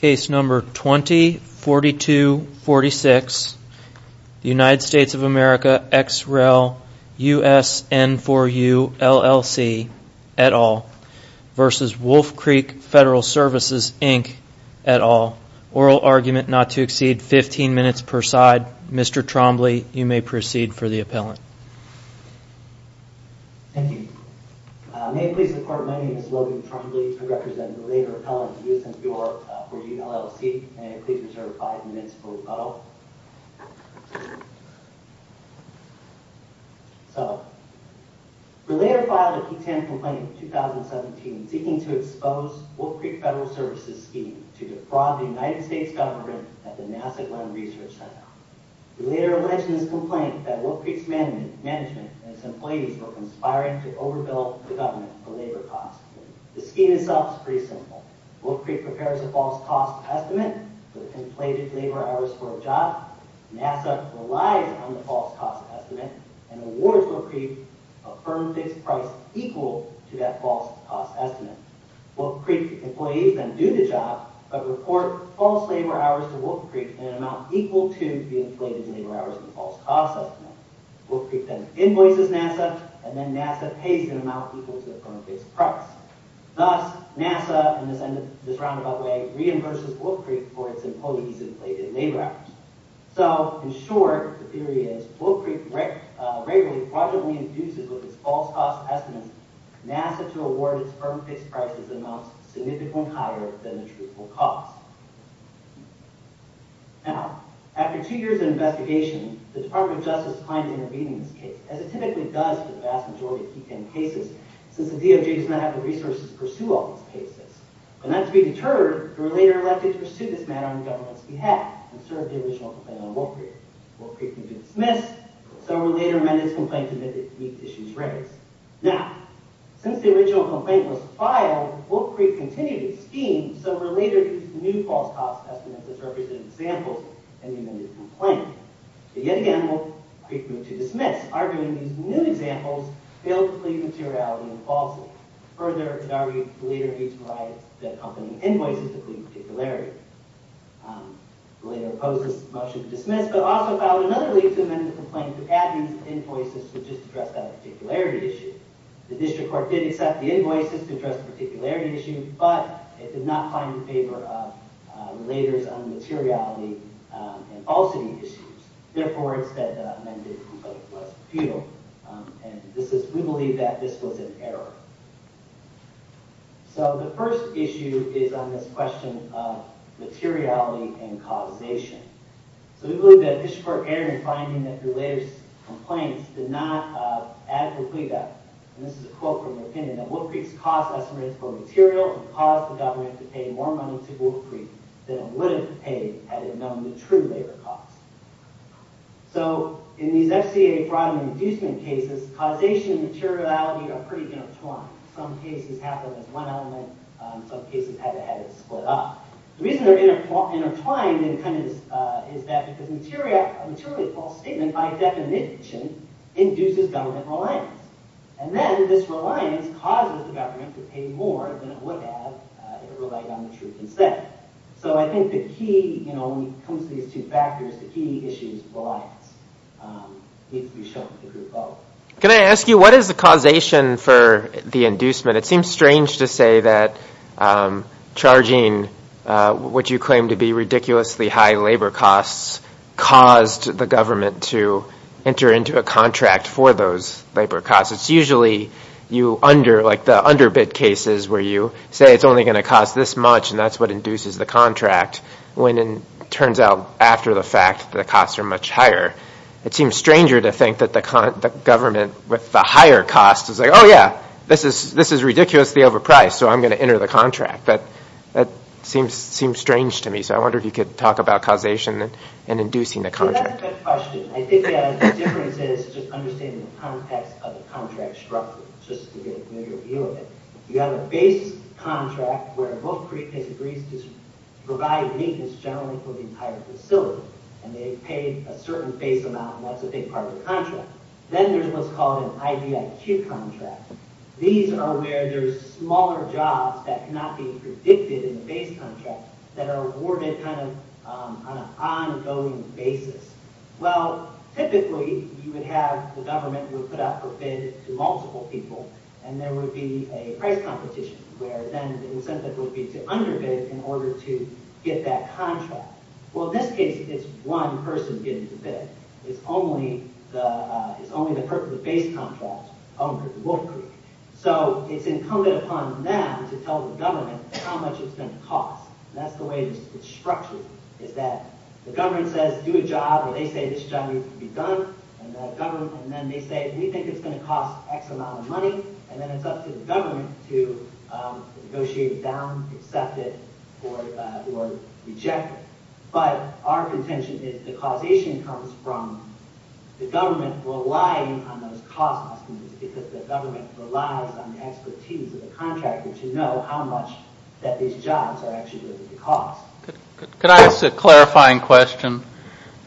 Inc. et al. Oral argument not to exceed 15 minutes per side. Mr. Trombley, you may proceed for the appellant. Thank you. May it please the court, my name is Logan Trombley. I represent Relator Appellant USN4U LLC. May it please be reserved 5 minutes for rebuttal. So, Relator filed a P10 complaint in 2017 seeking to expose Wolf Creek Federal Services' scheme to defraud the United States government at the NASA Glenn Research Center. The Relator alleged in this complaint that Wolf Creek's management and its employees were conspiring to overbill the government for labor costs. The scheme itself is pretty simple. Wolf Creek prepares a false cost estimate for the inflated labor hours for a job. NASA relies on the false cost estimate and awards Wolf Creek a firm fixed price equal to that false cost estimate. Wolf Creek employees then do the job, but report false labor hours to Wolf Creek in an amount equal to the inflated labor hours in the false cost estimate. Wolf Creek then invoices NASA, and then NASA pays an amount equal to the firm fixed price. Thus, NASA, in this roundabout way, reimburses Wolf Creek for its employees' inflated labor hours. In short, Wolf Creek regularly fraudulently infuses with its false cost estimates NASA to award its firm fixed prices amounts significantly higher than the truthful cost. After two years of investigation, the Department of Justice claimed to intervene in this case, as it typically does for the vast majority of P10 cases, since the DOJ does not have the resources to pursue all these cases. But not to be deterred, they were later elected to pursue this matter on the government's behalf, and served the original complaint on Wolf Creek. Wolf Creek moved to dismiss, but Sovereign later amended its complaint to make these issues rarer. Now, since the original complaint was filed, Wolf Creek continued its scheme, but Sovereign later used new false cost estimates as representative examples, and amended its complaint. Yet again, Wolf Creek moved to dismiss, arguing these new examples failed to plead materiality and falsity. Further, it argued the later agency provided the accompanying invoices to plead particularity. The later opposed this motion to dismiss, but also filed another lead to amend the complaint to add these invoices to just address that particularity issue. The district court did accept the invoices to address the particularity issue, but it did not find it in favor of the later's unmateriality and falsity issues. Therefore, it said that the amended complaint was futile, and we believe that this was an error. So, the first issue is on this question of materiality and causation. So, we believe that the district court errored in finding that the later's complaints did not adequately guide them. This is a quote from the opinion that Wolf Creek's cost estimates were material and caused the government to pay more money to Wolf Creek than it would have paid had it known the true labor costs. So, in these FCA fraud and inducement cases, causation and materiality are pretty intertwined. Some cases have them as one element, some cases have it split up. The reason they're intertwined is that a materially false statement, by definition, induces government reliance. And then, this reliance causes the government to pay more than it would have if it relied on the true consent. So, I think the key, you know, when it comes to these two factors, the key issue is reliance. It needs to be shown with a group vote. Can I ask you, what is the causation for the inducement? It seems strange to say that charging what you claim to be ridiculously high labor costs caused the government to enter into a contract for those labor costs. It's usually you under, like the underbid cases where you say it's only going to cost this much, and that's what induces the contract, when it turns out, after the fact, the costs are much higher. It seems stranger to think that the government, with the higher costs, is like, oh, yeah, this is ridiculously overpriced, so I'm going to enter the contract. But that seems strange to me, so I wonder if you could talk about causation and inducing the contract. That's a good question. I think the difference is just understanding the context of the contract structure, just to get a better view of it. You have a base contract where Book Creek has agreed to provide maintenance generally for the entire facility, and they've paid a certain base amount, and that's a big part of the contract. Then there's what's called an IBIQ contract. These are where there's smaller jobs that cannot be predicted in the base contract that are awarded kind of on an ongoing basis. Well, typically, you would have the government would put out a bid to multiple people, and there would be a price competition where then the incentive would be to underbid in order to get that contract. Well, in this case, it's one person getting the bid. It's only the person with the base contract, owner of Book Creek. So it's incumbent upon them to tell the government how much it's going to cost. That's the way it's structured, is that the government says, do a job, or they say, this job needs to be done, and then they say, we think it's going to cost X amount of money, and then it's up to the government to negotiate it down, accept it, or reject it. But our contention is the causation comes from the government relying on those cost estimates because the government relies on the expertise of the contractor to know how much that these jobs are actually going to cost. Could I ask a clarifying question?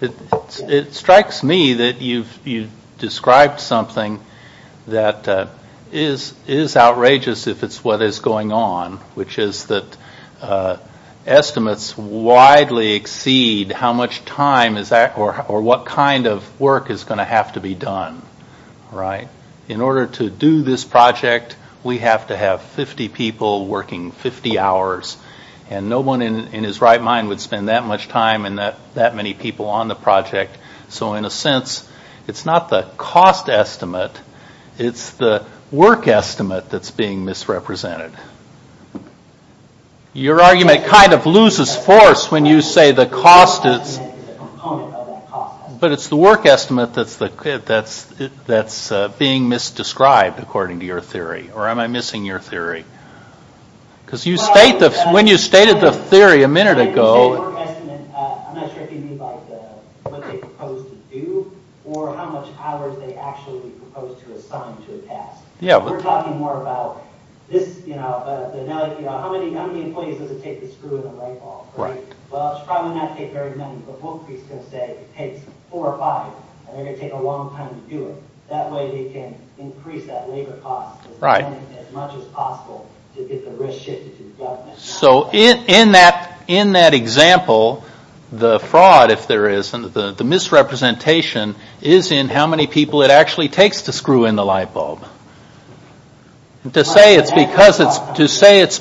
It strikes me that you've described something that is outrageous if it's what is going on, which is that estimates widely exceed how much time or what kind of work is going to have to be done. In order to do this project, we have to have 50 people working 50 hours, and no one in his right mind would spend that much time and that many people on the project. So in a sense, it's not the cost estimate, it's the work estimate that's being misrepresented. Your argument kind of loses force when you say the cost is, but it's the work estimate that's being misdescribed according to your theory, or am I missing your theory? When you stated the theory a minute ago... I'm not sure if you mean what they propose to do, or how much hours they actually propose to assign to a task. We're talking more about how many employees does it take to screw in a light bulb. Well, it's probably not going to take very many, but Wolfe is going to say it takes four or five, and they're going to take a long time to do it. That way they can increase that labor cost as much as possible to get the risk shifted to the government. So in that example, the fraud, if there is, and the misrepresentation, is in how many people it actually takes to screw in the light bulb. To say it's because it's...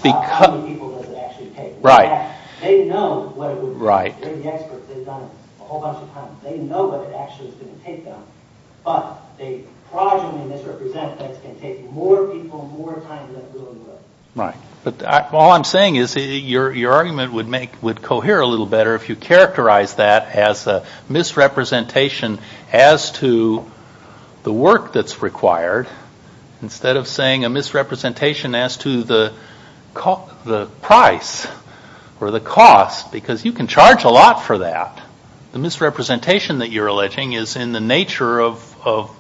How many people does it actually take? Right. They know what it would... Right. They're the experts, they've done it a whole bunch of times. They know what it actually is going to take them. But they fraudulently misrepresent that it's going to take more people, more time than it really would. Right. All I'm saying is your argument would cohere a little better if you characterize that as a misrepresentation as to the work that's required, instead of saying a misrepresentation as to the price or the cost, because you can charge a lot for that. The misrepresentation that you're alleging is in the nature of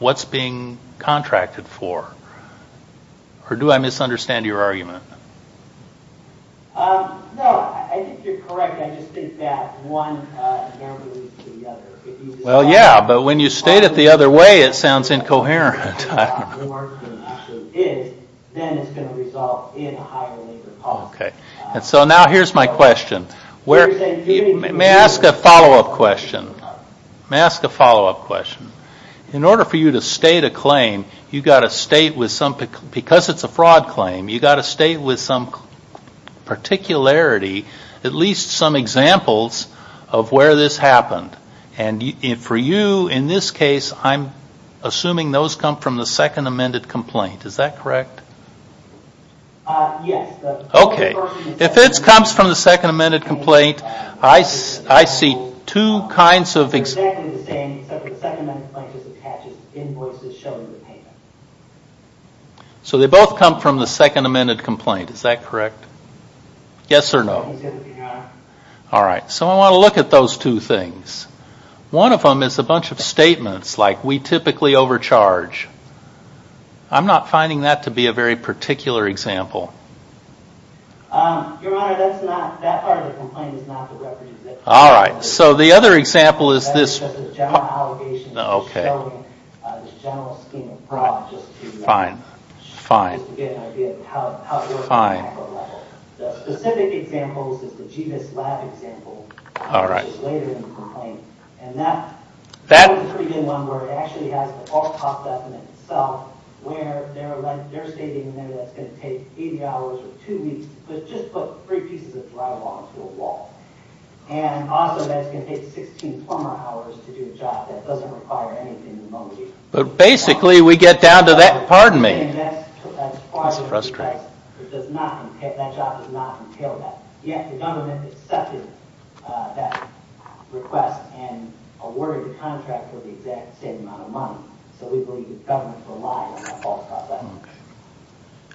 what's being contracted for. Or do I misunderstand your argument? No, I think you're correct. I just think that one never leads to the other. Well, yeah, but when you state it the other way, it sounds incoherent. Then it's going to result in a higher labor cost. And so now here's my question. May I ask a follow-up question? May I ask a follow-up question? In order for you to state a claim, you've got to state, because it's a fraud claim, you've got to state with some particularity at least some examples of where this happened. And for you, in this case, I'm assuming those come from the second amended complaint. Is that correct? Yes. Okay. If it comes from the second amended complaint, I see two kinds of examples. So they both come from the second amended complaint. Is that correct? Yes or no? All right. So I want to look at those two things. One of them is a bunch of statements like, we typically overcharge. I'm not finding that to be a very particular example. Your Honor, that part of the complaint is not the reference. All right. So the other example is this. That's just a general allegation. Okay. Just showing the general scheme of fraud. Fine. Just to get an idea of how it works. Fine. The specific example is the GVIS lab example. All right. Which is later in the complaint. And that is a pretty good one where it actually has all popped up in itself where they're stating that it's going to take 80 hours or two weeks. But just put three pieces of drywall to a wall. And also that it's going to take 16 plumber hours to do a job. That doesn't require anything in the moment either. But basically we get down to that. Pardon me. That's frustrating. That job does not entail that. Yet the government accepted that request and awarded the contract with the exact same amount of money. So we believe the government's a liar in that false proposition.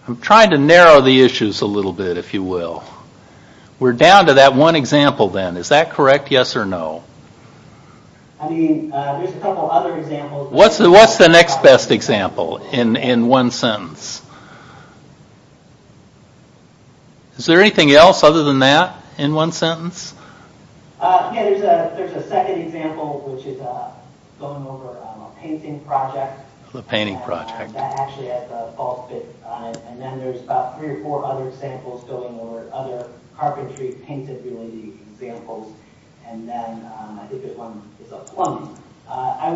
I'm trying to narrow the issues a little bit, if you will. We're down to that one example then. Is that correct, yes or no? I mean, there's a couple other examples. What's the next best example in one sentence? Is there anything else other than that in one sentence? Yeah, there's a second example which is going over a painting project. A painting project. That actually has a false bid on it. And then there's about three or four other examples going over it, other carpentry painted related examples. And then I think there's one that's a plumber.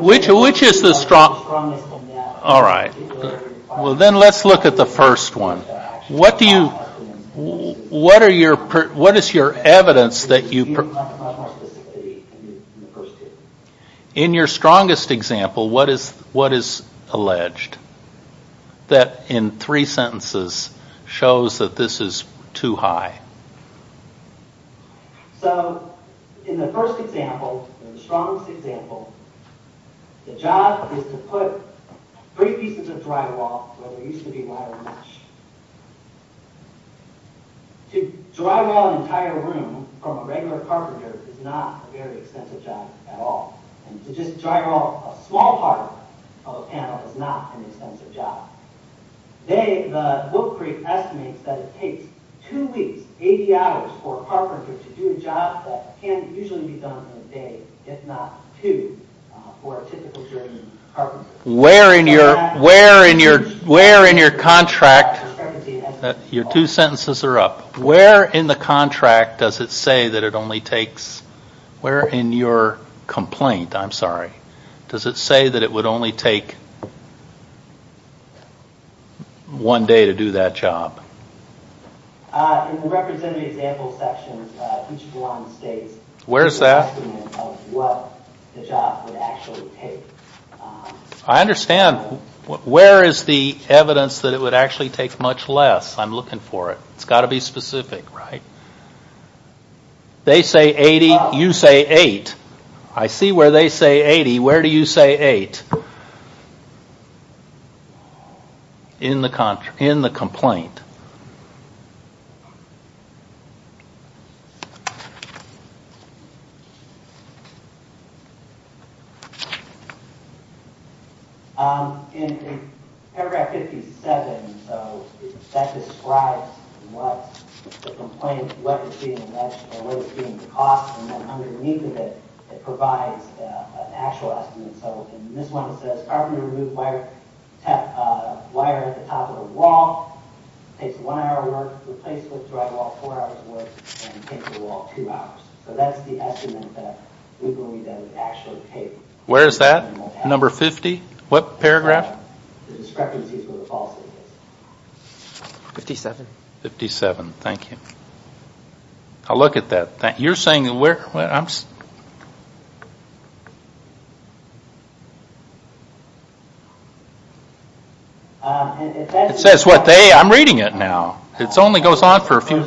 Which is the strongest in that? All right. Well, then let's look at the first one. What do you – what is your evidence that you – Much more specificity in the first two. In your strongest example, what is alleged that in three sentences shows that this is too high? So in the first example, the strongest example, the job is to put three pieces of drywall where there used to be wire mesh. To drywall an entire room from a regular carpenter is not a very extensive job at all. And to just drywall a small part of a panel is not an extensive job. Today, the Wood Creek estimates that it takes two weeks, 80 hours, for a carpenter to do a job that can usually be done in a day, if not two, for a typical German carpenter. Where in your contract – your two sentences are up. Where in the contract does it say that it only takes – where in your complaint, I'm sorry, does it say that it would only take one day to do that job? In the representative example section, each one states – Where's that? What the job would actually take. I understand. Where is the evidence that it would actually take much less? I'm looking for it. It's got to be specific, right? They say 80. You say 8. I see where they say 80. Where do you say 8? In the complaint. In paragraph 57, that describes what the complaint, what is being alleged, what is being cost, and then underneath of it, it provides an actual estimate. In this one, it says, carpenter removed wire at the top of the wall, takes one hour to work, replaced with drywall, four hours to work, and takes the wall two hours. So that's the estimate that we believe that it would actually take. Where is that? Number 50? What paragraph? The discrepancy is where the falsity is. 57. 57. Thank you. I'll look at that. You're saying that we're... It says what they... I'm reading it now. It only goes on for a few...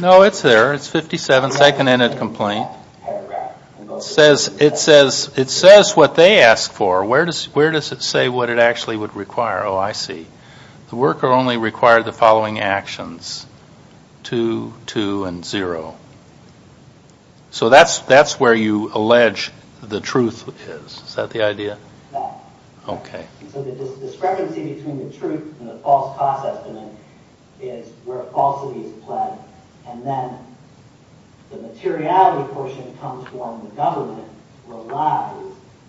No, it's there. It's 57, second-ended complaint. It says what they asked for. Where does it say what it actually would require? Oh, I see. The worker only required the following actions. Two, two, and zero. So that's where you allege the truth is. Is that the idea? No. Okay. So the discrepancy between the truth and the false cost estimate is where falsity is pled. And then the materiality portion comes when the government relies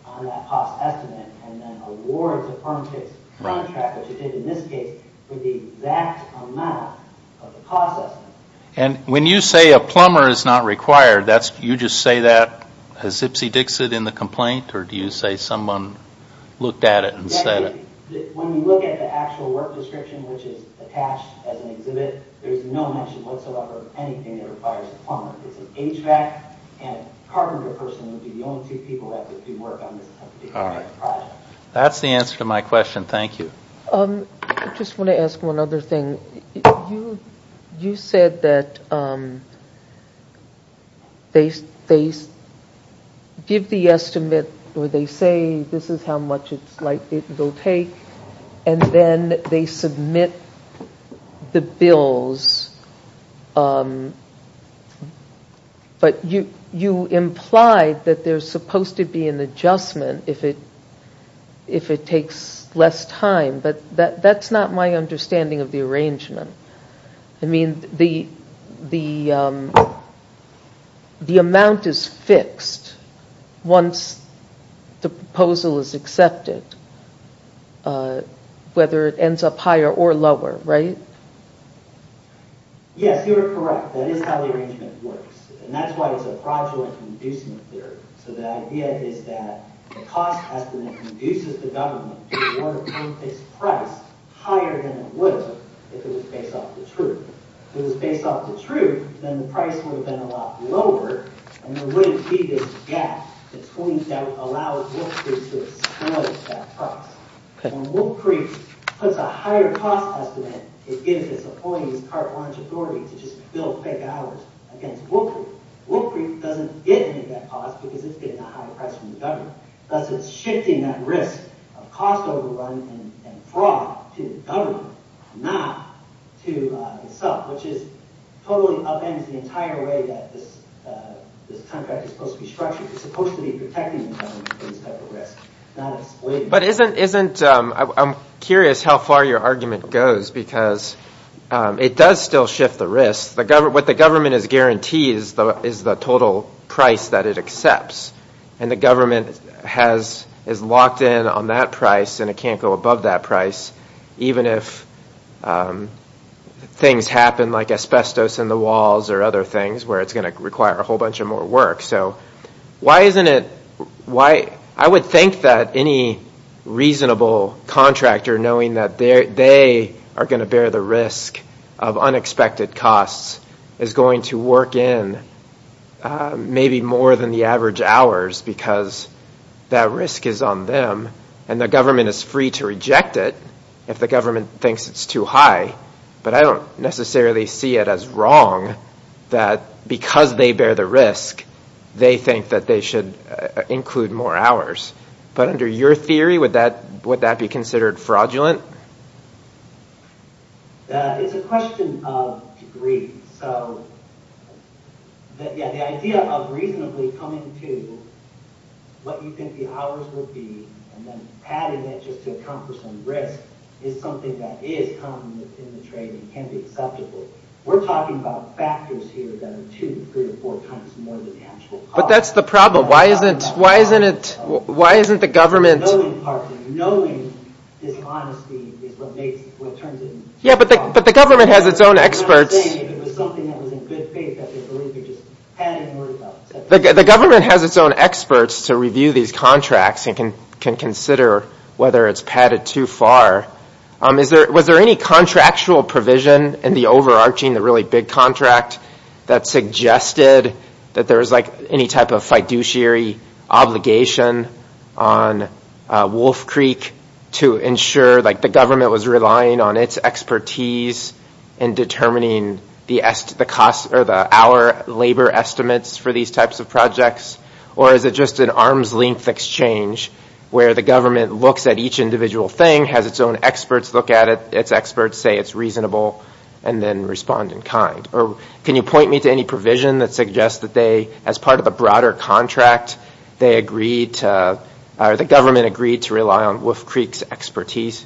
on that cost estimate and then awards a firm case contract, which it did in this case, for the exact amount of the cost estimate. And when you say a plumber is not required, you just say that as ipsy-dixit in the complaint, or do you say someone looked at it and said it? When you look at the actual work description, which is attached as an exhibit, there's no mention whatsoever of anything that requires a plumber. It's an HVAC, and a carpenter person would be the only two people that would do work on this type of project. That's the answer to my question. Thank you. I just want to ask one other thing. You said that they give the estimate, or they say this is how much it will take, and then they submit the bills. But you implied that there's supposed to be an adjustment if it takes less time, but that's not my understanding of the arrangement. I mean, the amount is fixed once the proposal is accepted, whether it ends up higher or lower, right? Yes, you are correct. That is how the arrangement works, and that's why it's a fraudulent inducement theory. So the idea is that the cost estimate induces the government to award a co-fixed price higher than it would have if it was based off the truth. If it was based off the truth, then the price would have been a lot lower, and there wouldn't be this gap that's going to allow Wolf Creek to exploit that price. When Wolf Creek puts a higher cost estimate, it gives its employees cart launch authority to just bill fake hours against Wolf Creek. Wolf Creek doesn't get any of that cost because it's getting a higher price from the government. Thus, it's shifting that risk of cost overrun and fraud to the government, not to itself, which totally upends the entire way that this contract is supposed to be structured. It's supposed to be protecting the government from this type of risk, not exploiting it. But isn't... I'm curious how far your argument goes, because it does still shift the risk. What the government has guaranteed is the total price that it accepts, and the government is locked in on that price, and it can't go above that price, even if things happen like asbestos in the walls or other things where it's going to require a whole bunch of more work. So why isn't it... I would think that any reasonable contractor, knowing that they are going to bear the risk of unexpected costs, is going to work in maybe more than the average hours because that risk is on them, and the government is free to reject it if the government thinks it's too high. But I don't necessarily see it as wrong that because they bear the risk, they think that they should include more hours. But under your theory, would that be considered fraudulent? It's a question of degree. So the idea of reasonably coming to what you think the hours will be and then padding it just to account for some risk is something that is common in the trade and can be acceptable. We're talking about factors here that are two, three, or four times more than the actual cost. But that's the problem. Why isn't the government... Knowing this honesty is what turns it into fraud. But the government has its own experts. I'm not saying that if it was something that was in good faith, that they'd believe it, just pad it and worry about it. The government has its own experts to review these contracts and can consider whether it's padded too far. Was there any contractual provision in the overarching, the really big contract, that suggested that there was any type of fiduciary obligation on Wolf Creek to ensure the government was relying on its expertise in determining the hour labor estimates for these types of projects? Or is it just an arm's length exchange where the government looks at each individual thing, has its own experts look at it, its experts say it's reasonable, and then respond in kind? Or can you point me to any provision that suggests that they, as part of a broader contract, they agreed to, or the government agreed to rely on Wolf Creek's expertise?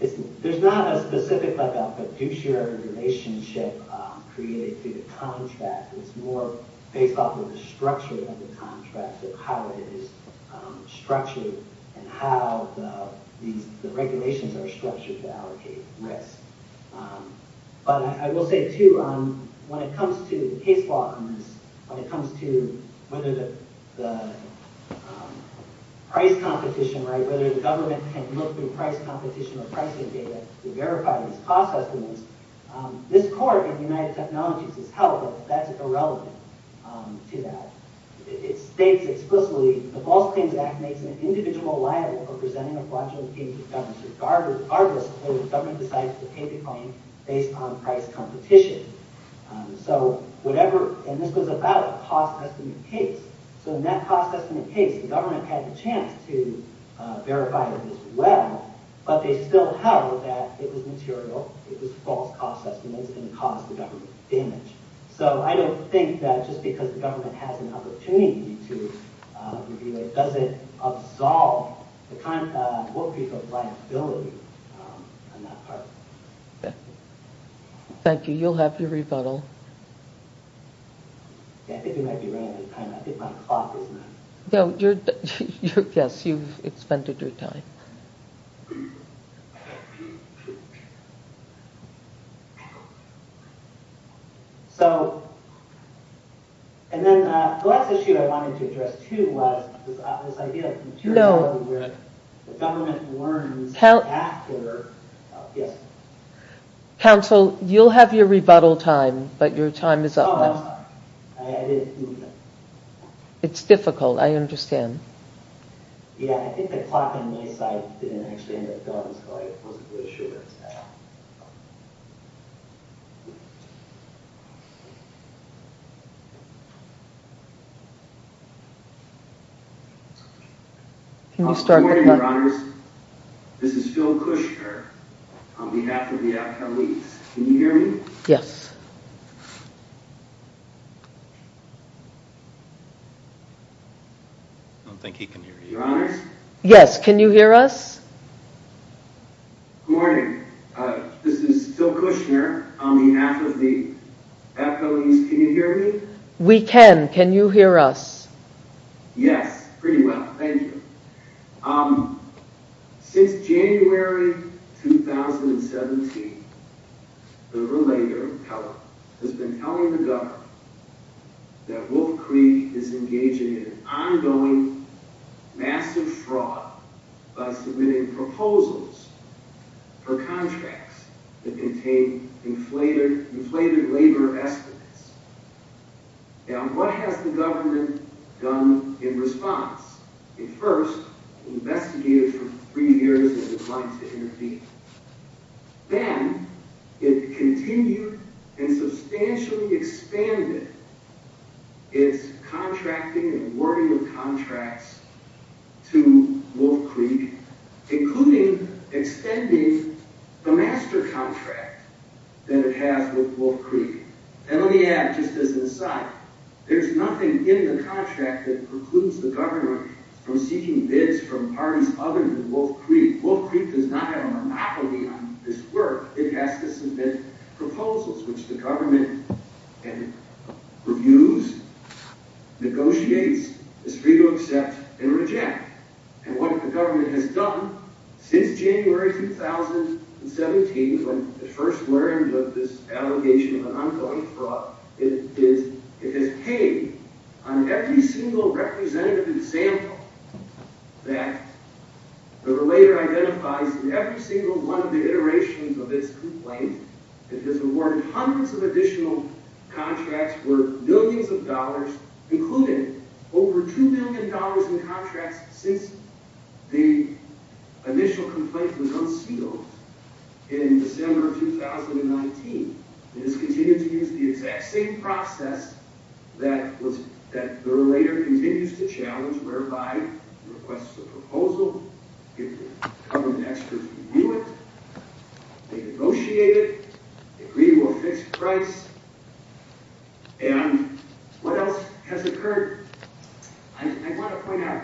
There's not a specific fiduciary relationship created through the contract. It's more based off of the structure of the contract, of how it is structured and how the regulations are structured to allocate risk. But I will say, too, when it comes to case law, when it comes to whether the price competition, whether the government can look through price competition or pricing data to verify these cost estimates, this court in the United Technologies has held that that's irrelevant to that. It states explicitly, the False Claims Act makes an individual liable for presenting a fraudulent case to the government regardless if the government decides to take the claim based on price competition. And this was about a cost estimate case. So in that cost estimate case, the government had the chance to verify this well, but they still held that it was material, it was false cost estimates, and it caused the government damage. So I don't think that just because the government has an opportunity to review it doesn't absolve the kind of workpeople liability on that part. Thank you. You'll have your rebuttal. I think it might be right at the time. I think my clock is not... No, you're... Yes, you've expended your time. So... And then the last issue I wanted to address, too, was this idea of... No. ...the government learns after... Yes. Counsel, you'll have your rebuttal time, but your time is up now. Oh, I'm sorry. I didn't... It's difficult. I understand. Yeah, I think the clock on my side didn't actually end up going, so I wasn't quite sure what to say. Can you start the clock? Good morning, Your Honors. This is Phil Kushner on behalf of the Academy. Can you hear me? Yes. I don't think he can hear you. Your Honors? Yes. Can you hear us? Good morning. This is Phil Kushner on behalf of the... Can you hear me? We can. Can you hear us? Yes. Pretty well. Thank you. Since January 2017, the Relator has been telling the government that Wolf Creek is engaging in ongoing massive fraud by submitting proposals for contracts that contain inflated labor estimates. Now, what has the government done in response? It first investigated for three years and declined to intervene. Then it continued and substantially expanded its contracting and awarding of contracts to Wolf Creek, including extending the master contract that it has with Wolf Creek. And let me add, just as an aside, there's nothing in the contract that precludes the government from seeking bids from parties other than Wolf Creek. Wolf Creek does not have a monopoly on this work. It has to submit proposals, which the government reviews, negotiates, is free to accept and reject. And what the government has done since January 2017 when it first learned of this allegation of an ongoing fraud, it has paid on every single representative example that the Relator identifies in every single one of the iterations of its complaint. It has awarded hundreds of additional contracts worth millions of dollars, including over $2 million in contracts since the initial complaint was unsealed in December of 2019. It has continued to use the exact same process that the Relator continues to challenge, whereby it requests a proposal, if the government experts review it, they negotiate it, agree to a fixed price, and what else has occurred? I want to point out,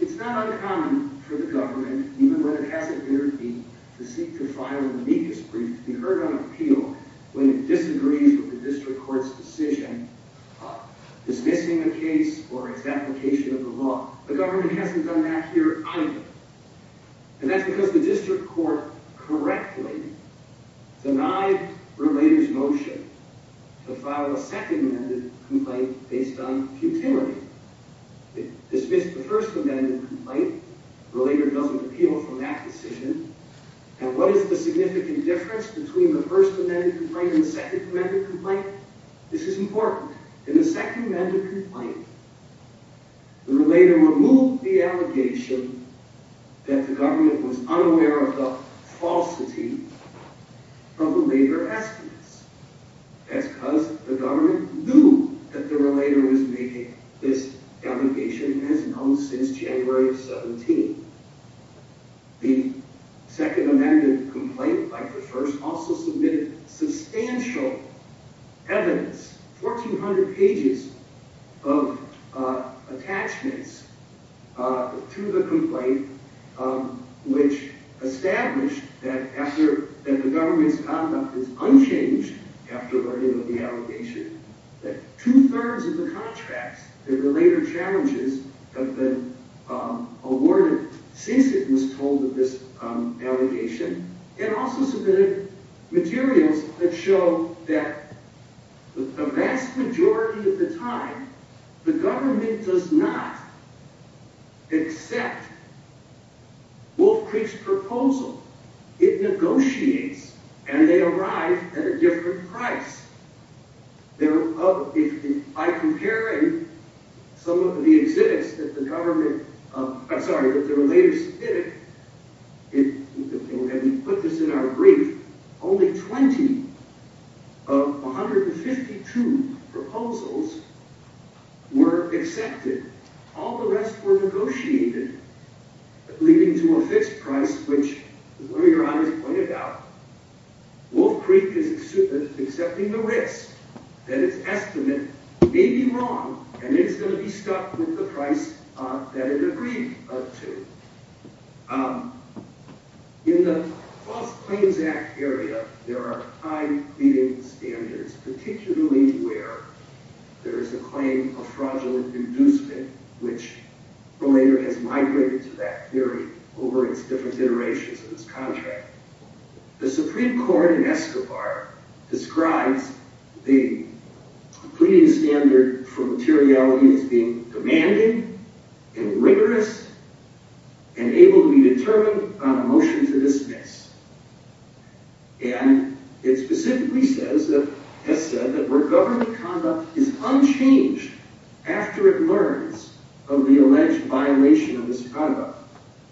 it's not uncommon for the government, even when it hasn't appeared to be, to seek to file an amicus brief to be heard on appeal when it disagrees with the district court's decision dismissing a case or its application of the law. The government hasn't done that here either. And that's because the district court correctly denied Relator's motion to file a second amended complaint based on futility. It dismissed the first amended complaint, Relator doesn't appeal from that decision, and what is the significant difference between the first amended complaint and the second amended complaint? This is important. In the second amended complaint, the Relator removed the allegation that the government was unaware of the falsity of the Relator estimates. That's because the government knew that the Relator was making this allegation as known since January of 17. The second amended complaint, like the first, also submitted substantial evidence, 1,400 pages of attachments to the complaint, which established that the government's conduct is unchanged after learning of the allegation, that two-thirds of the contracts that the Relator challenges have been awarded since it was told of this allegation, and also submitted materials that show that the vast majority of the time, the government does not accept Wolf Creek's proposal. It negotiates, and they arrive at a different price. By comparing some of the exhibits that the government, I'm sorry, that the Relator submitted, and we put this in our brief, only 20 of 152 proposals were accepted. All the rest were negotiated, leading to a fixed price, which, as one of your honorees pointed out, Wolf Creek is accepting the risk that its estimate may be wrong, and it's going to be stuck with the price that it agreed to. In the False Claims Act area, there are high pleading standards, particularly where there is a claim of fraudulent inducement, which Relator has migrated to that theory over its different iterations of this contract. The Supreme Court in Escobar describes the pleading standard for materiality as being demanding and rigorous, and able to be determined on a motion to dismiss. And it specifically says, has said that where government conduct is unchanged after it learns of the alleged violation of this contract.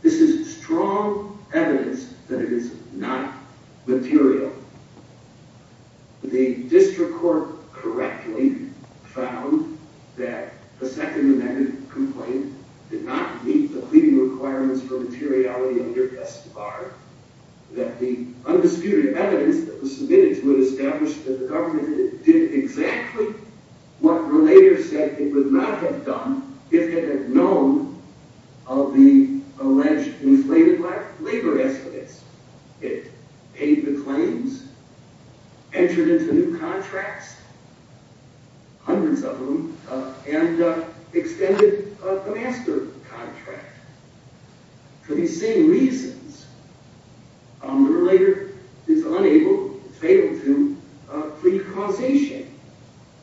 This is strong evidence that it is not material. The District Court correctly found that the Second Amendment complaint did not meet the pleading requirements for materiality under Escobar. That the undisputed evidence that was submitted to it established that the government did exactly what Relator said it would not have done if it had known of the alleged inflated labor estimates. It paid the claims, entered into new contracts, hundreds of them, and extended the master contract. For these same reasons, Relator is unable, is fatal to, plea causation.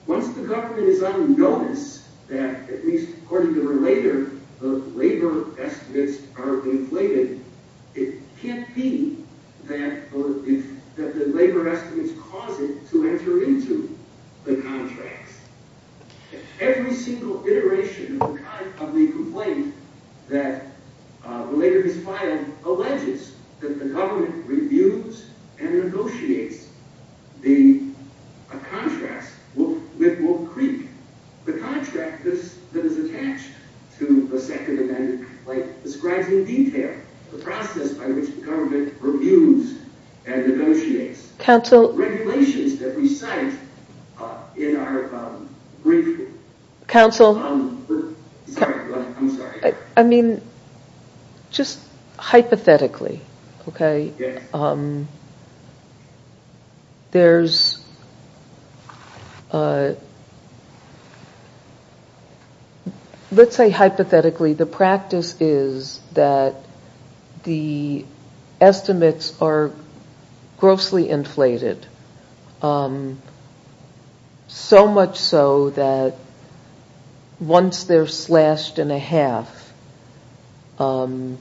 Once the government is unnoticed that, at least according to Relator, the labor estimates are inflated, it can't be that the labor estimates cause it to enter into the contracts. Every single iteration of the complaint that Relator has filed alleges that the government reviews and negotiates the contracts with Wolf Creek. The contract that is attached to the Second Amendment describes in detail the process by which the government reviews and negotiates the regulations that we cite in our brief. I'm sorry. I mean, just hypothetically, okay, there's, uh, let's say hypothetically, the practice is that the estimates are grossly inflated. So much so that once they're slashed in a half, they're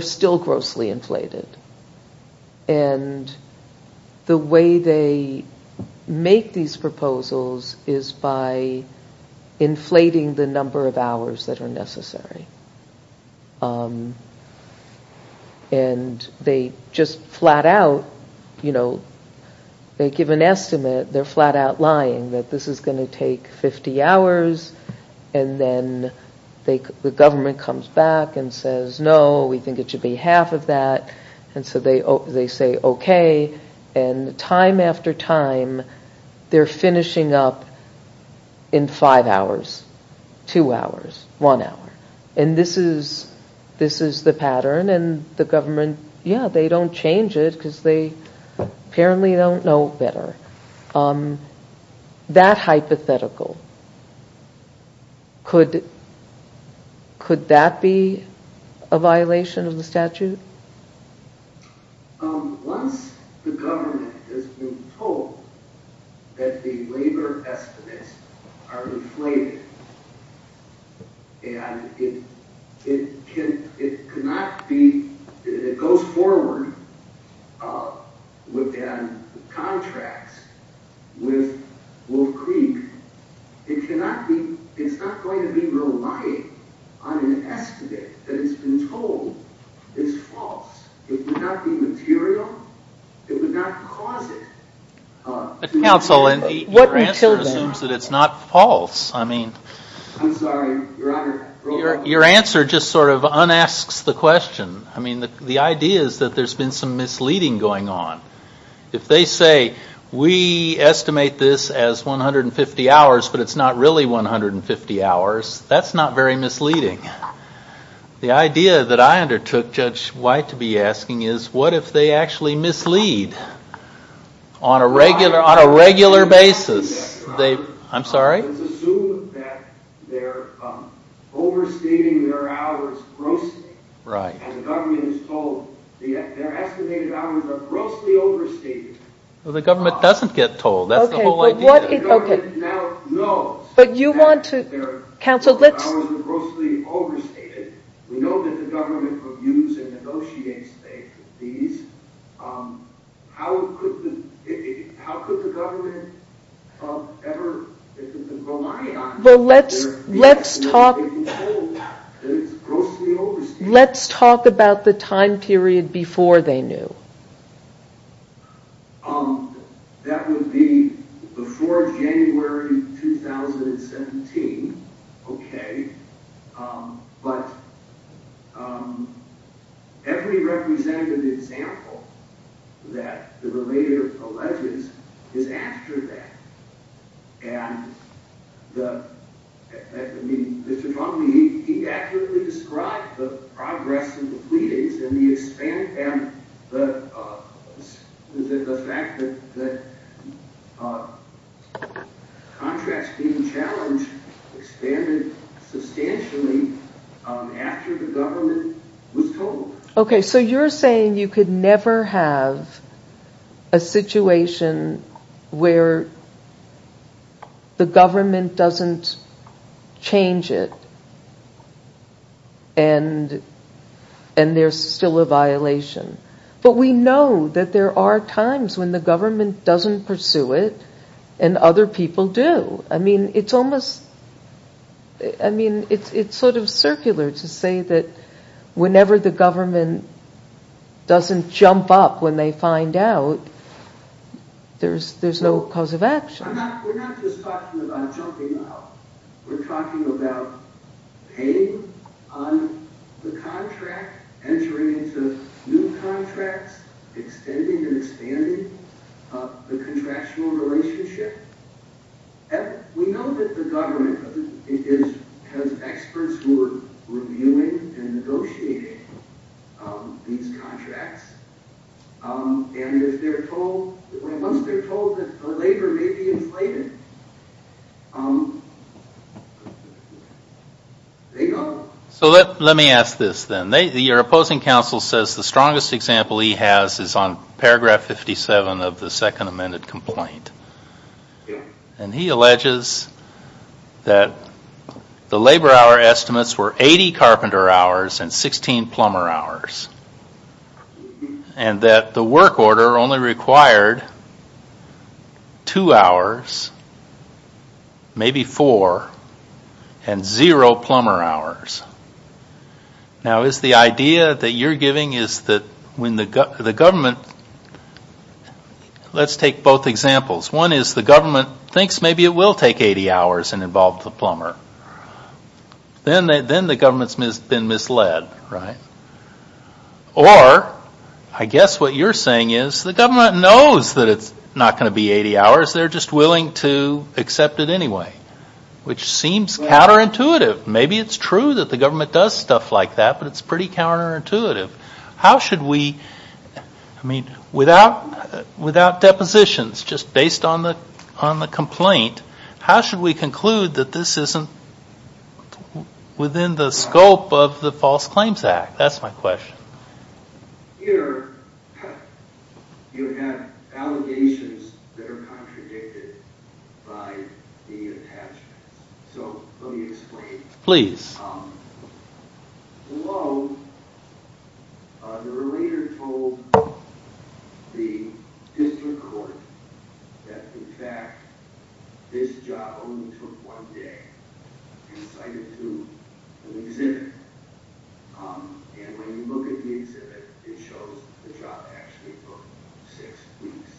still grossly inflated. And the way they make these proposals is by inflating the number of hours that are necessary. And they just flat out, you know, they give an estimate, they're flat out lying that this is going to take 50 hours, and then the government comes back and says, no, we think it should be half of that, and so they say, okay, and time after time they're finishing up in five hours, two hours, one hour. And this is, this is the pattern, and the government, yeah, they don't change it because they apparently don't know better. That hypothetical, could, could that be a violation of the statute? Once the government has been told that the labor estimates are inflated, and it cannot be, it goes forward within contracts with Wolf Creek, it cannot be, it's not going to be relying on an estimate that has been told is false. It would not be material, it would not cause it. But counsel, your answer assumes that it's not false. I mean, your answer just sort of un-asks the question. I mean, the idea is that there's been some misleading going on. If they say, we estimate this as 150 hours, but it's not really 150 hours, that's not very misleading. The idea that I undertook, Judge White to be asking is, what if they actually mislead on a regular basis? I'm sorry? Let's assume that they're overstating their hours grossly, and the government is told their estimated hours are grossly overstated. The government doesn't get told, that's the whole idea. The government now knows that their estimated hours are grossly overstated. We know that the government reviews and negotiates these. How could the government ever, if it's been relying on their estimated hours, be told that it's grossly overstated? Let's talk about the time period before they knew. That would be before January 2017. Okay. But, every representative example that the relator alleges is after that. And, Mr. Trombey, he accurately described the progress of the pleadings, and the fact that contracts being challenged expanded substantially after the government was told. Okay, so you're saying you could never have a situation where the government doesn't change it, and there's still a violation. But we know that there are times when the government doesn't pursue it, and other people do. I mean, it's almost, I mean, it's sort of circular to say that whenever the government doesn't jump up when they find out, there's no cause of action. We're not just talking about jumping up. We're talking about paying on the contract, entering into new contracts, extending and expanding the contractual relationship. We know that the government has experts who are reviewing and negotiating these contracts, and once they're told that the labor may be inflated, they don't. So let me ask this then. Your opposing counsel says the strongest example he has is on paragraph 57 of the second amended complaint. And he alleges that the labor hour estimates were 80 carpenter hours and 16 plumber hours, and that the work order only required two hours, maybe four, and zero plumber hours. Now is the idea that you're giving is that when the government, let's take both examples. One is the government thinks maybe it will take 80 hours and involve the plumber. Then the government's been misled, right? Or, I guess what you're saying is the government knows that it's not going to be 80 hours, they're just willing to accept it anyway, which seems counterintuitive. Maybe it's true that the government does stuff like that, but it's pretty counterintuitive. How should we, I mean, without depositions, just based on the complaint, how should we conclude that this isn't within the scope of the False Claims Act? That's my question. Here you have allegations that are contradicted by the attachments. So let me explain. Please. Below, the relator told the district court that in fact this job only took one day and cited to an exhibit. And when you look at the exhibit, it shows the job actually took six weeks.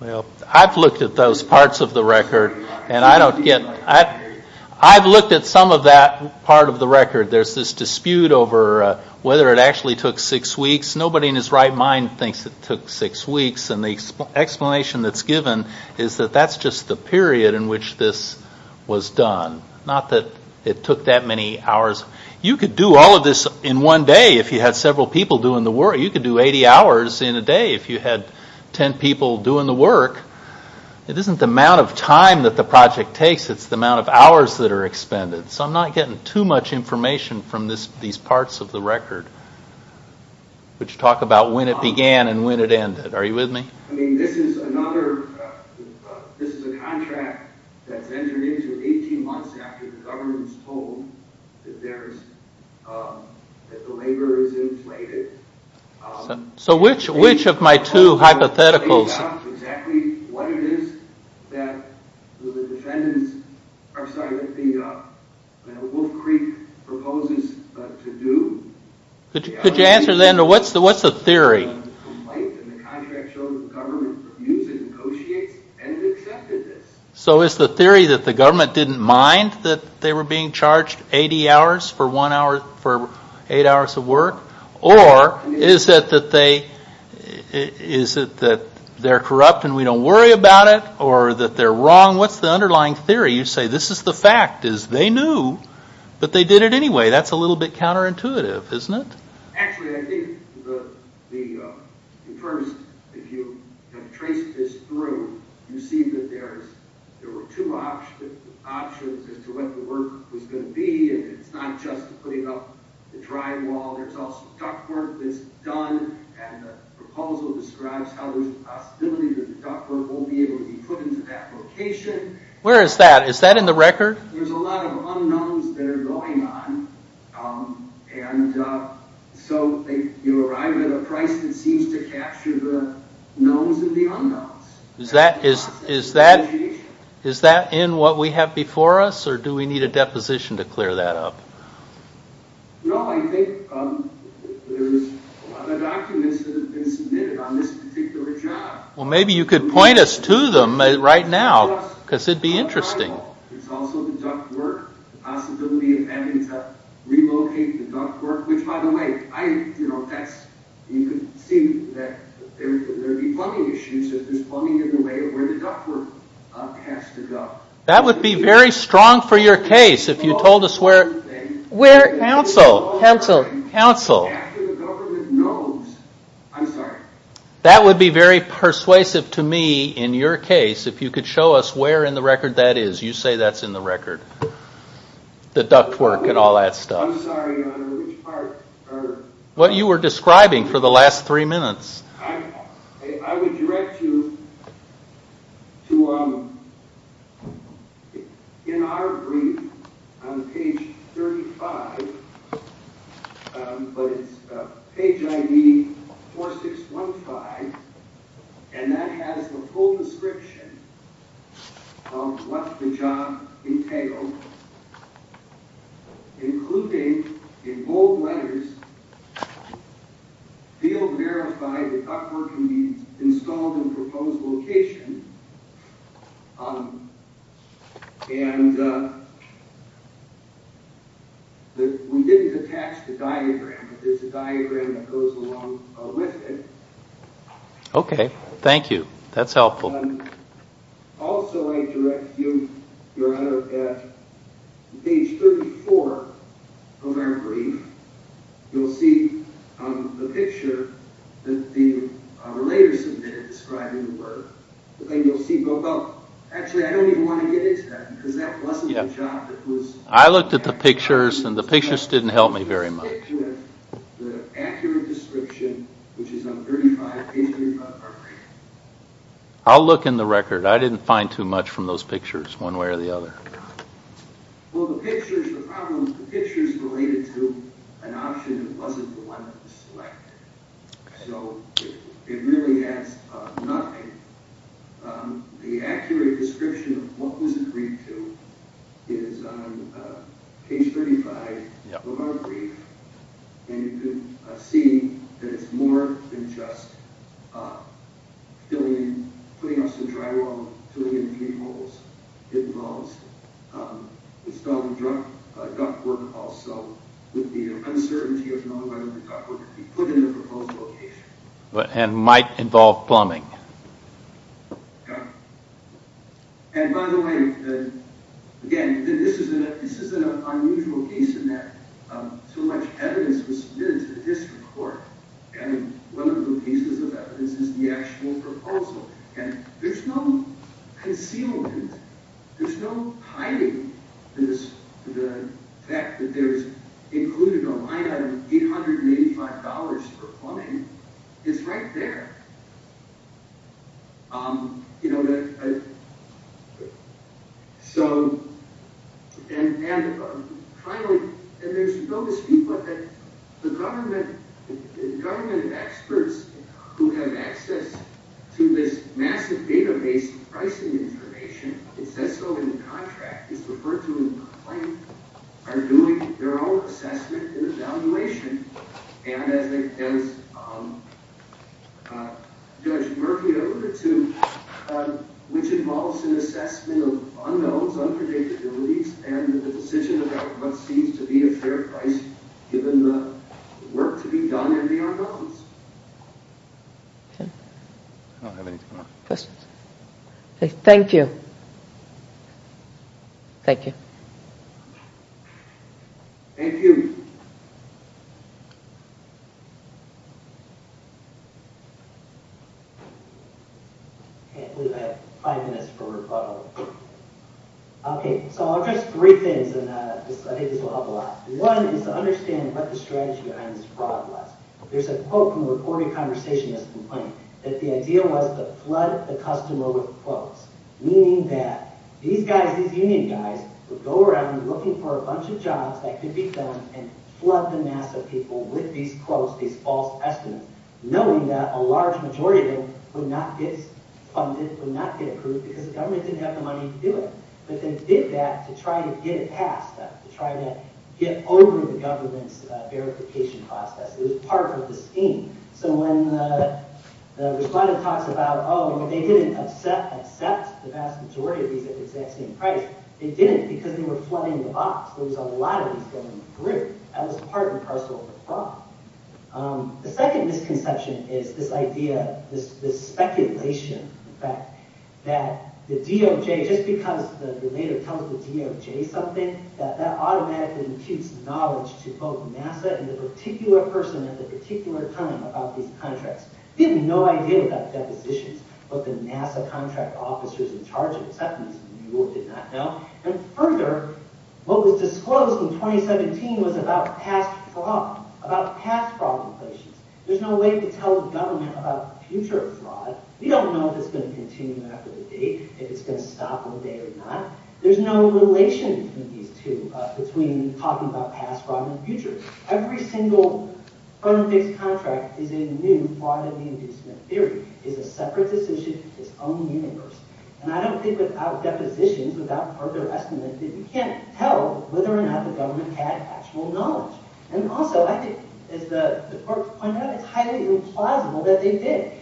Well, I've looked at those parts of the record and I don't get, I've looked at some of that part of the record. There's this dispute over whether it actually took six weeks. Nobody in his right mind thinks it took six weeks. And the explanation that's given is that that's just the period in which this was done. Not that it took that many hours. You could do all of this in one day if you had several people doing the work. You could do 80 hours in a day if you had 10 people doing the work. It isn't the amount of time that the project takes. It's the amount of hours that are expended. So I'm not getting too much information from these parts of the record which talk about when it began and when it ended. Are you with me? So which of my two hypotheticals... I'm sorry, Wolf Creek proposes to do... Could you answer then, what's the theory? ...complaint and the contract shows that the government reviews and negotiates and has accepted this. So is the theory that the government didn't mind that they were being charged 80 hours for eight hours of work? Or is it that they're corrupt and we don't worry about it? Or that they're wrong? What's the underlying theory? You say, this is the fact, is they knew, but they did it anyway. That's a little bit counterintuitive, isn't it? Actually, I think the... First, if you trace this through, you see that there were two options as to what the work was going to be. It's not just putting up the drywall. There's also ductwork that's done and the proposal describes how there's a possibility that the ductwork won't be able to be put into that location. Where is that? Is that in the record? There's a lot of unknowns that are going on and so you arrive at a price that seems to capture the knowns and the unknowns. Is that in what we have before us or do we need a deposition to clear that up? No, I think there's other documents that have been submitted on this particular job. Well, maybe you could point us to them right now. Because it'd be interesting. It's also the ductwork. The possibility of having to relocate the ductwork, which by the way, you could see that there'd be plumbing issues if there's plumbing in the way of where the ductwork has to go. That would be very strong for your case if you told us where... Council, council, council. After the government knows. I'm sorry. That would be very persuasive to me in your case if you could show us where in the record that is. You say that's in the record. The ductwork and all that stuff. I'm sorry, Your Honor, which part? What you were describing for the last three minutes. I would direct you to... in our agreement on page 35, but it's page ID 4615 and that has the full description of what the job entailed, including in bold letters, field verified that ductwork can be installed in proposed location. And we didn't attach the diagram, but there's a diagram that goes along with it. Okay, thank you. That's helpful. Also, I direct you, Your Honor, at page 34 of our brief, you'll see the picture that the relators submitted describing the work. And you'll see both... Actually, I don't even want to get into that because that wasn't the job that was... I looked at the pictures and the pictures didn't help me very much. The accurate description, which is on page 35 of our brief. I'll look in the record. I didn't find too much from those pictures one way or the other. Well, the picture's the problem. The picture's related to an option that wasn't the one that was selected. So it really has nothing. The accurate description of what was agreed to is on page 35 of our brief. And you can see that it's more than just putting up some drywall, filling in three holes. It involves installing ductwork also with the uncertainty of knowing whether the ductwork would be put in the proposed location. And might involve plumbing. Yeah. And by the way, again, this is an unusual piece in that so much evidence was submitted to the district court. And one of the pieces of evidence is the actual proposal. And there's no concealment. There's no hiding the fact that there's included a line item of $885 for plumbing. It's right there. You know, so... And finally, there's no dispute that the government experts who have access to this massive database of pricing information, it says so in the contract, it's referred to in the plan, are doing their own assessment and evaluation. And as Judge Murphy alluded to, which involves an assessment of unknowns, unpredictabilities, and the decision about what seems to be a fair price given the work to be done and the unknowns. I don't have anything else. Questions? Thank you. Thank you. Thank you. Thank you. Okay, I believe I have five minutes for rebuttal. Okay, so I'll address three things, and I think this will help a lot. One is to understand what the strategy behind this fraud was. There's a quote from the reporting conversation that's in the plan, that the idea was to flood the customer with quotes, meaning that these guys, these union guys, would go around looking for a bunch of jobs that could be filmed, and flood the mass of people with these quotes, these false estimates, knowing that a large majority of them would not get funded, would not get approved, because the government didn't have the money to do it. But they did that to try to get it passed, to try to get over the government's verification process. It was part of the scheme. So when the respondent talks about, oh, they didn't accept the vast majority of these at the exact same price, they didn't because they were flooding the box. There was a lot of these going through. That was part and parcel of the fraud. The second misconception is this idea, this speculation, in fact, that the DOJ, just because the narrator tells the DOJ something, that that automatically imputes knowledge to both NASA and the particular person at the particular time about these contracts. We have no idea about the depositions of the NASA contract officers in charge of acceptance. We did not know. And further, what was disclosed in 2017 was about past fraud, about past fraud implications. There's no way to tell the government about the future of fraud. We don't know if it's going to continue after the date, if it's going to stop one day or not. There's no relation between these two, between talking about past fraud and the future. Every single firm-fixed contract is a new fraud-in-the-inducement theory, is a separate decision in its own universe. And I don't think without depositions, without further estimate, that we can't tell whether or not the government had actual knowledge. And also, I think, as the clerk pointed out, it's highly implausible that they did.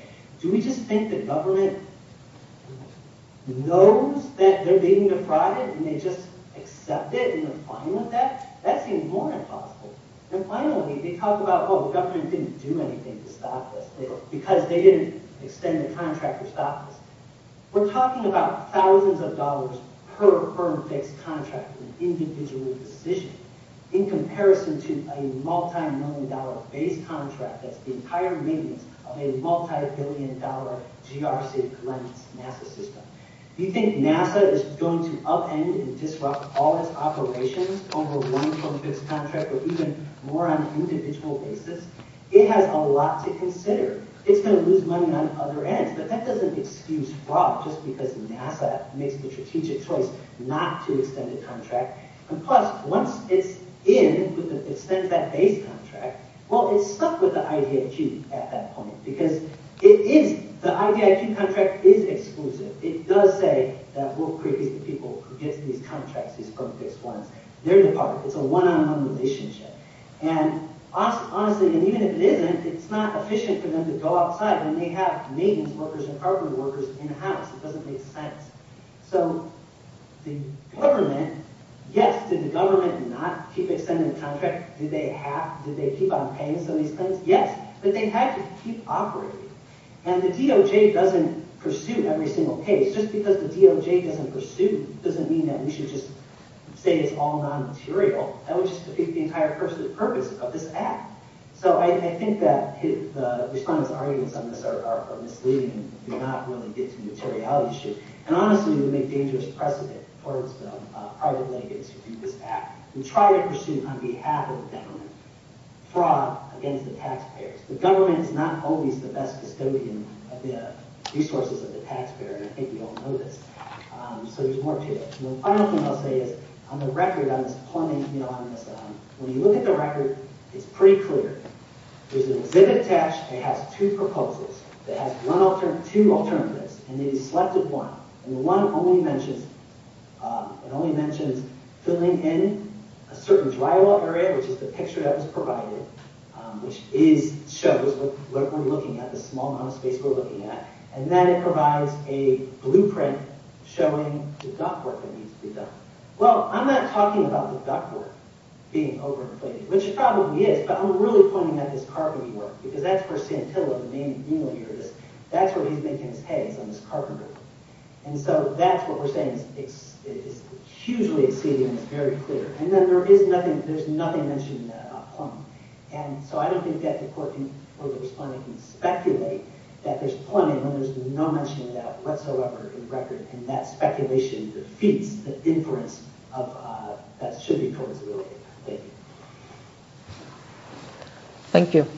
Do we just think the government knows that they're being defrauded and they just accept it and are fine with that? That seems more than plausible. And finally, they talk about, oh, the government didn't do anything to stop this because they didn't extend the contract or stop this. We're talking about thousands of dollars per firm-fixed contract, an individual decision, in comparison to a multi-million dollar base contract that's the entire maintenance of a multi-billion dollar GRC-cleansed NASA system. You think NASA is going to upend and disrupt all its operations over one firm-fixed contract or even more on an individual basis? It has a lot to consider. It's going to lose money on other ends, but that doesn't excuse fraud, just because NASA makes the strategic choice not to extend a contract. And plus, once it's in, it extends that base contract, well, it's stuck with the IDIQ at that point because the IDIQ contract is exclusive. It does say that we'll create these people who get these contracts, these firm-fixed ones. They're the part. It's a one-on-one relationship. And honestly, even if it isn't, it's not efficient for them to go outside and they have maintenance workers and hardware workers in-house. It doesn't make sense. So the government, yes, did the government not keep extending the contract? Did they keep on paying some of these claims? Yes, but they had to keep operating. And the DOJ doesn't pursue every single case. Just because the DOJ doesn't pursue doesn't mean that we should just say it's all non-material. That would just defeat the entire purpose of this act. So I think that the respondents whose arguments on this are misleading do not really get to the materiality issue. And honestly, we make dangerous precedent towards the private legates who do this act. We try to pursue, on behalf of the government, fraud against the taxpayers. The government is not always the best custodian of the resources of the taxpayer, and I think we all know this. So there's more to it. And the final thing I'll say is, on the record, on this plumbing, when you look at the record, it's pretty clear. There's an exhibit attached. It has two proposals. It has two alternatives, and it is selected one. And the one only mentions filling in a certain drywall area, which is the picture that was provided, which shows what we're looking at, the small amount of space we're looking at. And then it provides a blueprint showing the ductwork that needs to be done. Well, I'm not talking about the ductwork being overinflated, which it probably is, but I'm really pointing at this carpentry work, because that's where Santillo, the main dealer here is, that's where he's making his heads, on this carpentry work. And so that's what we're saying is hugely exceeding and it's very clear. And then there is nothing, there's nothing mentioned in that about plumbing. And so I don't think that the court can, or the respondent can speculate that there's plumbing when there's no mention of that whatsoever in the record, and that speculation defeats the inference that should be towards the real thing. Thank you.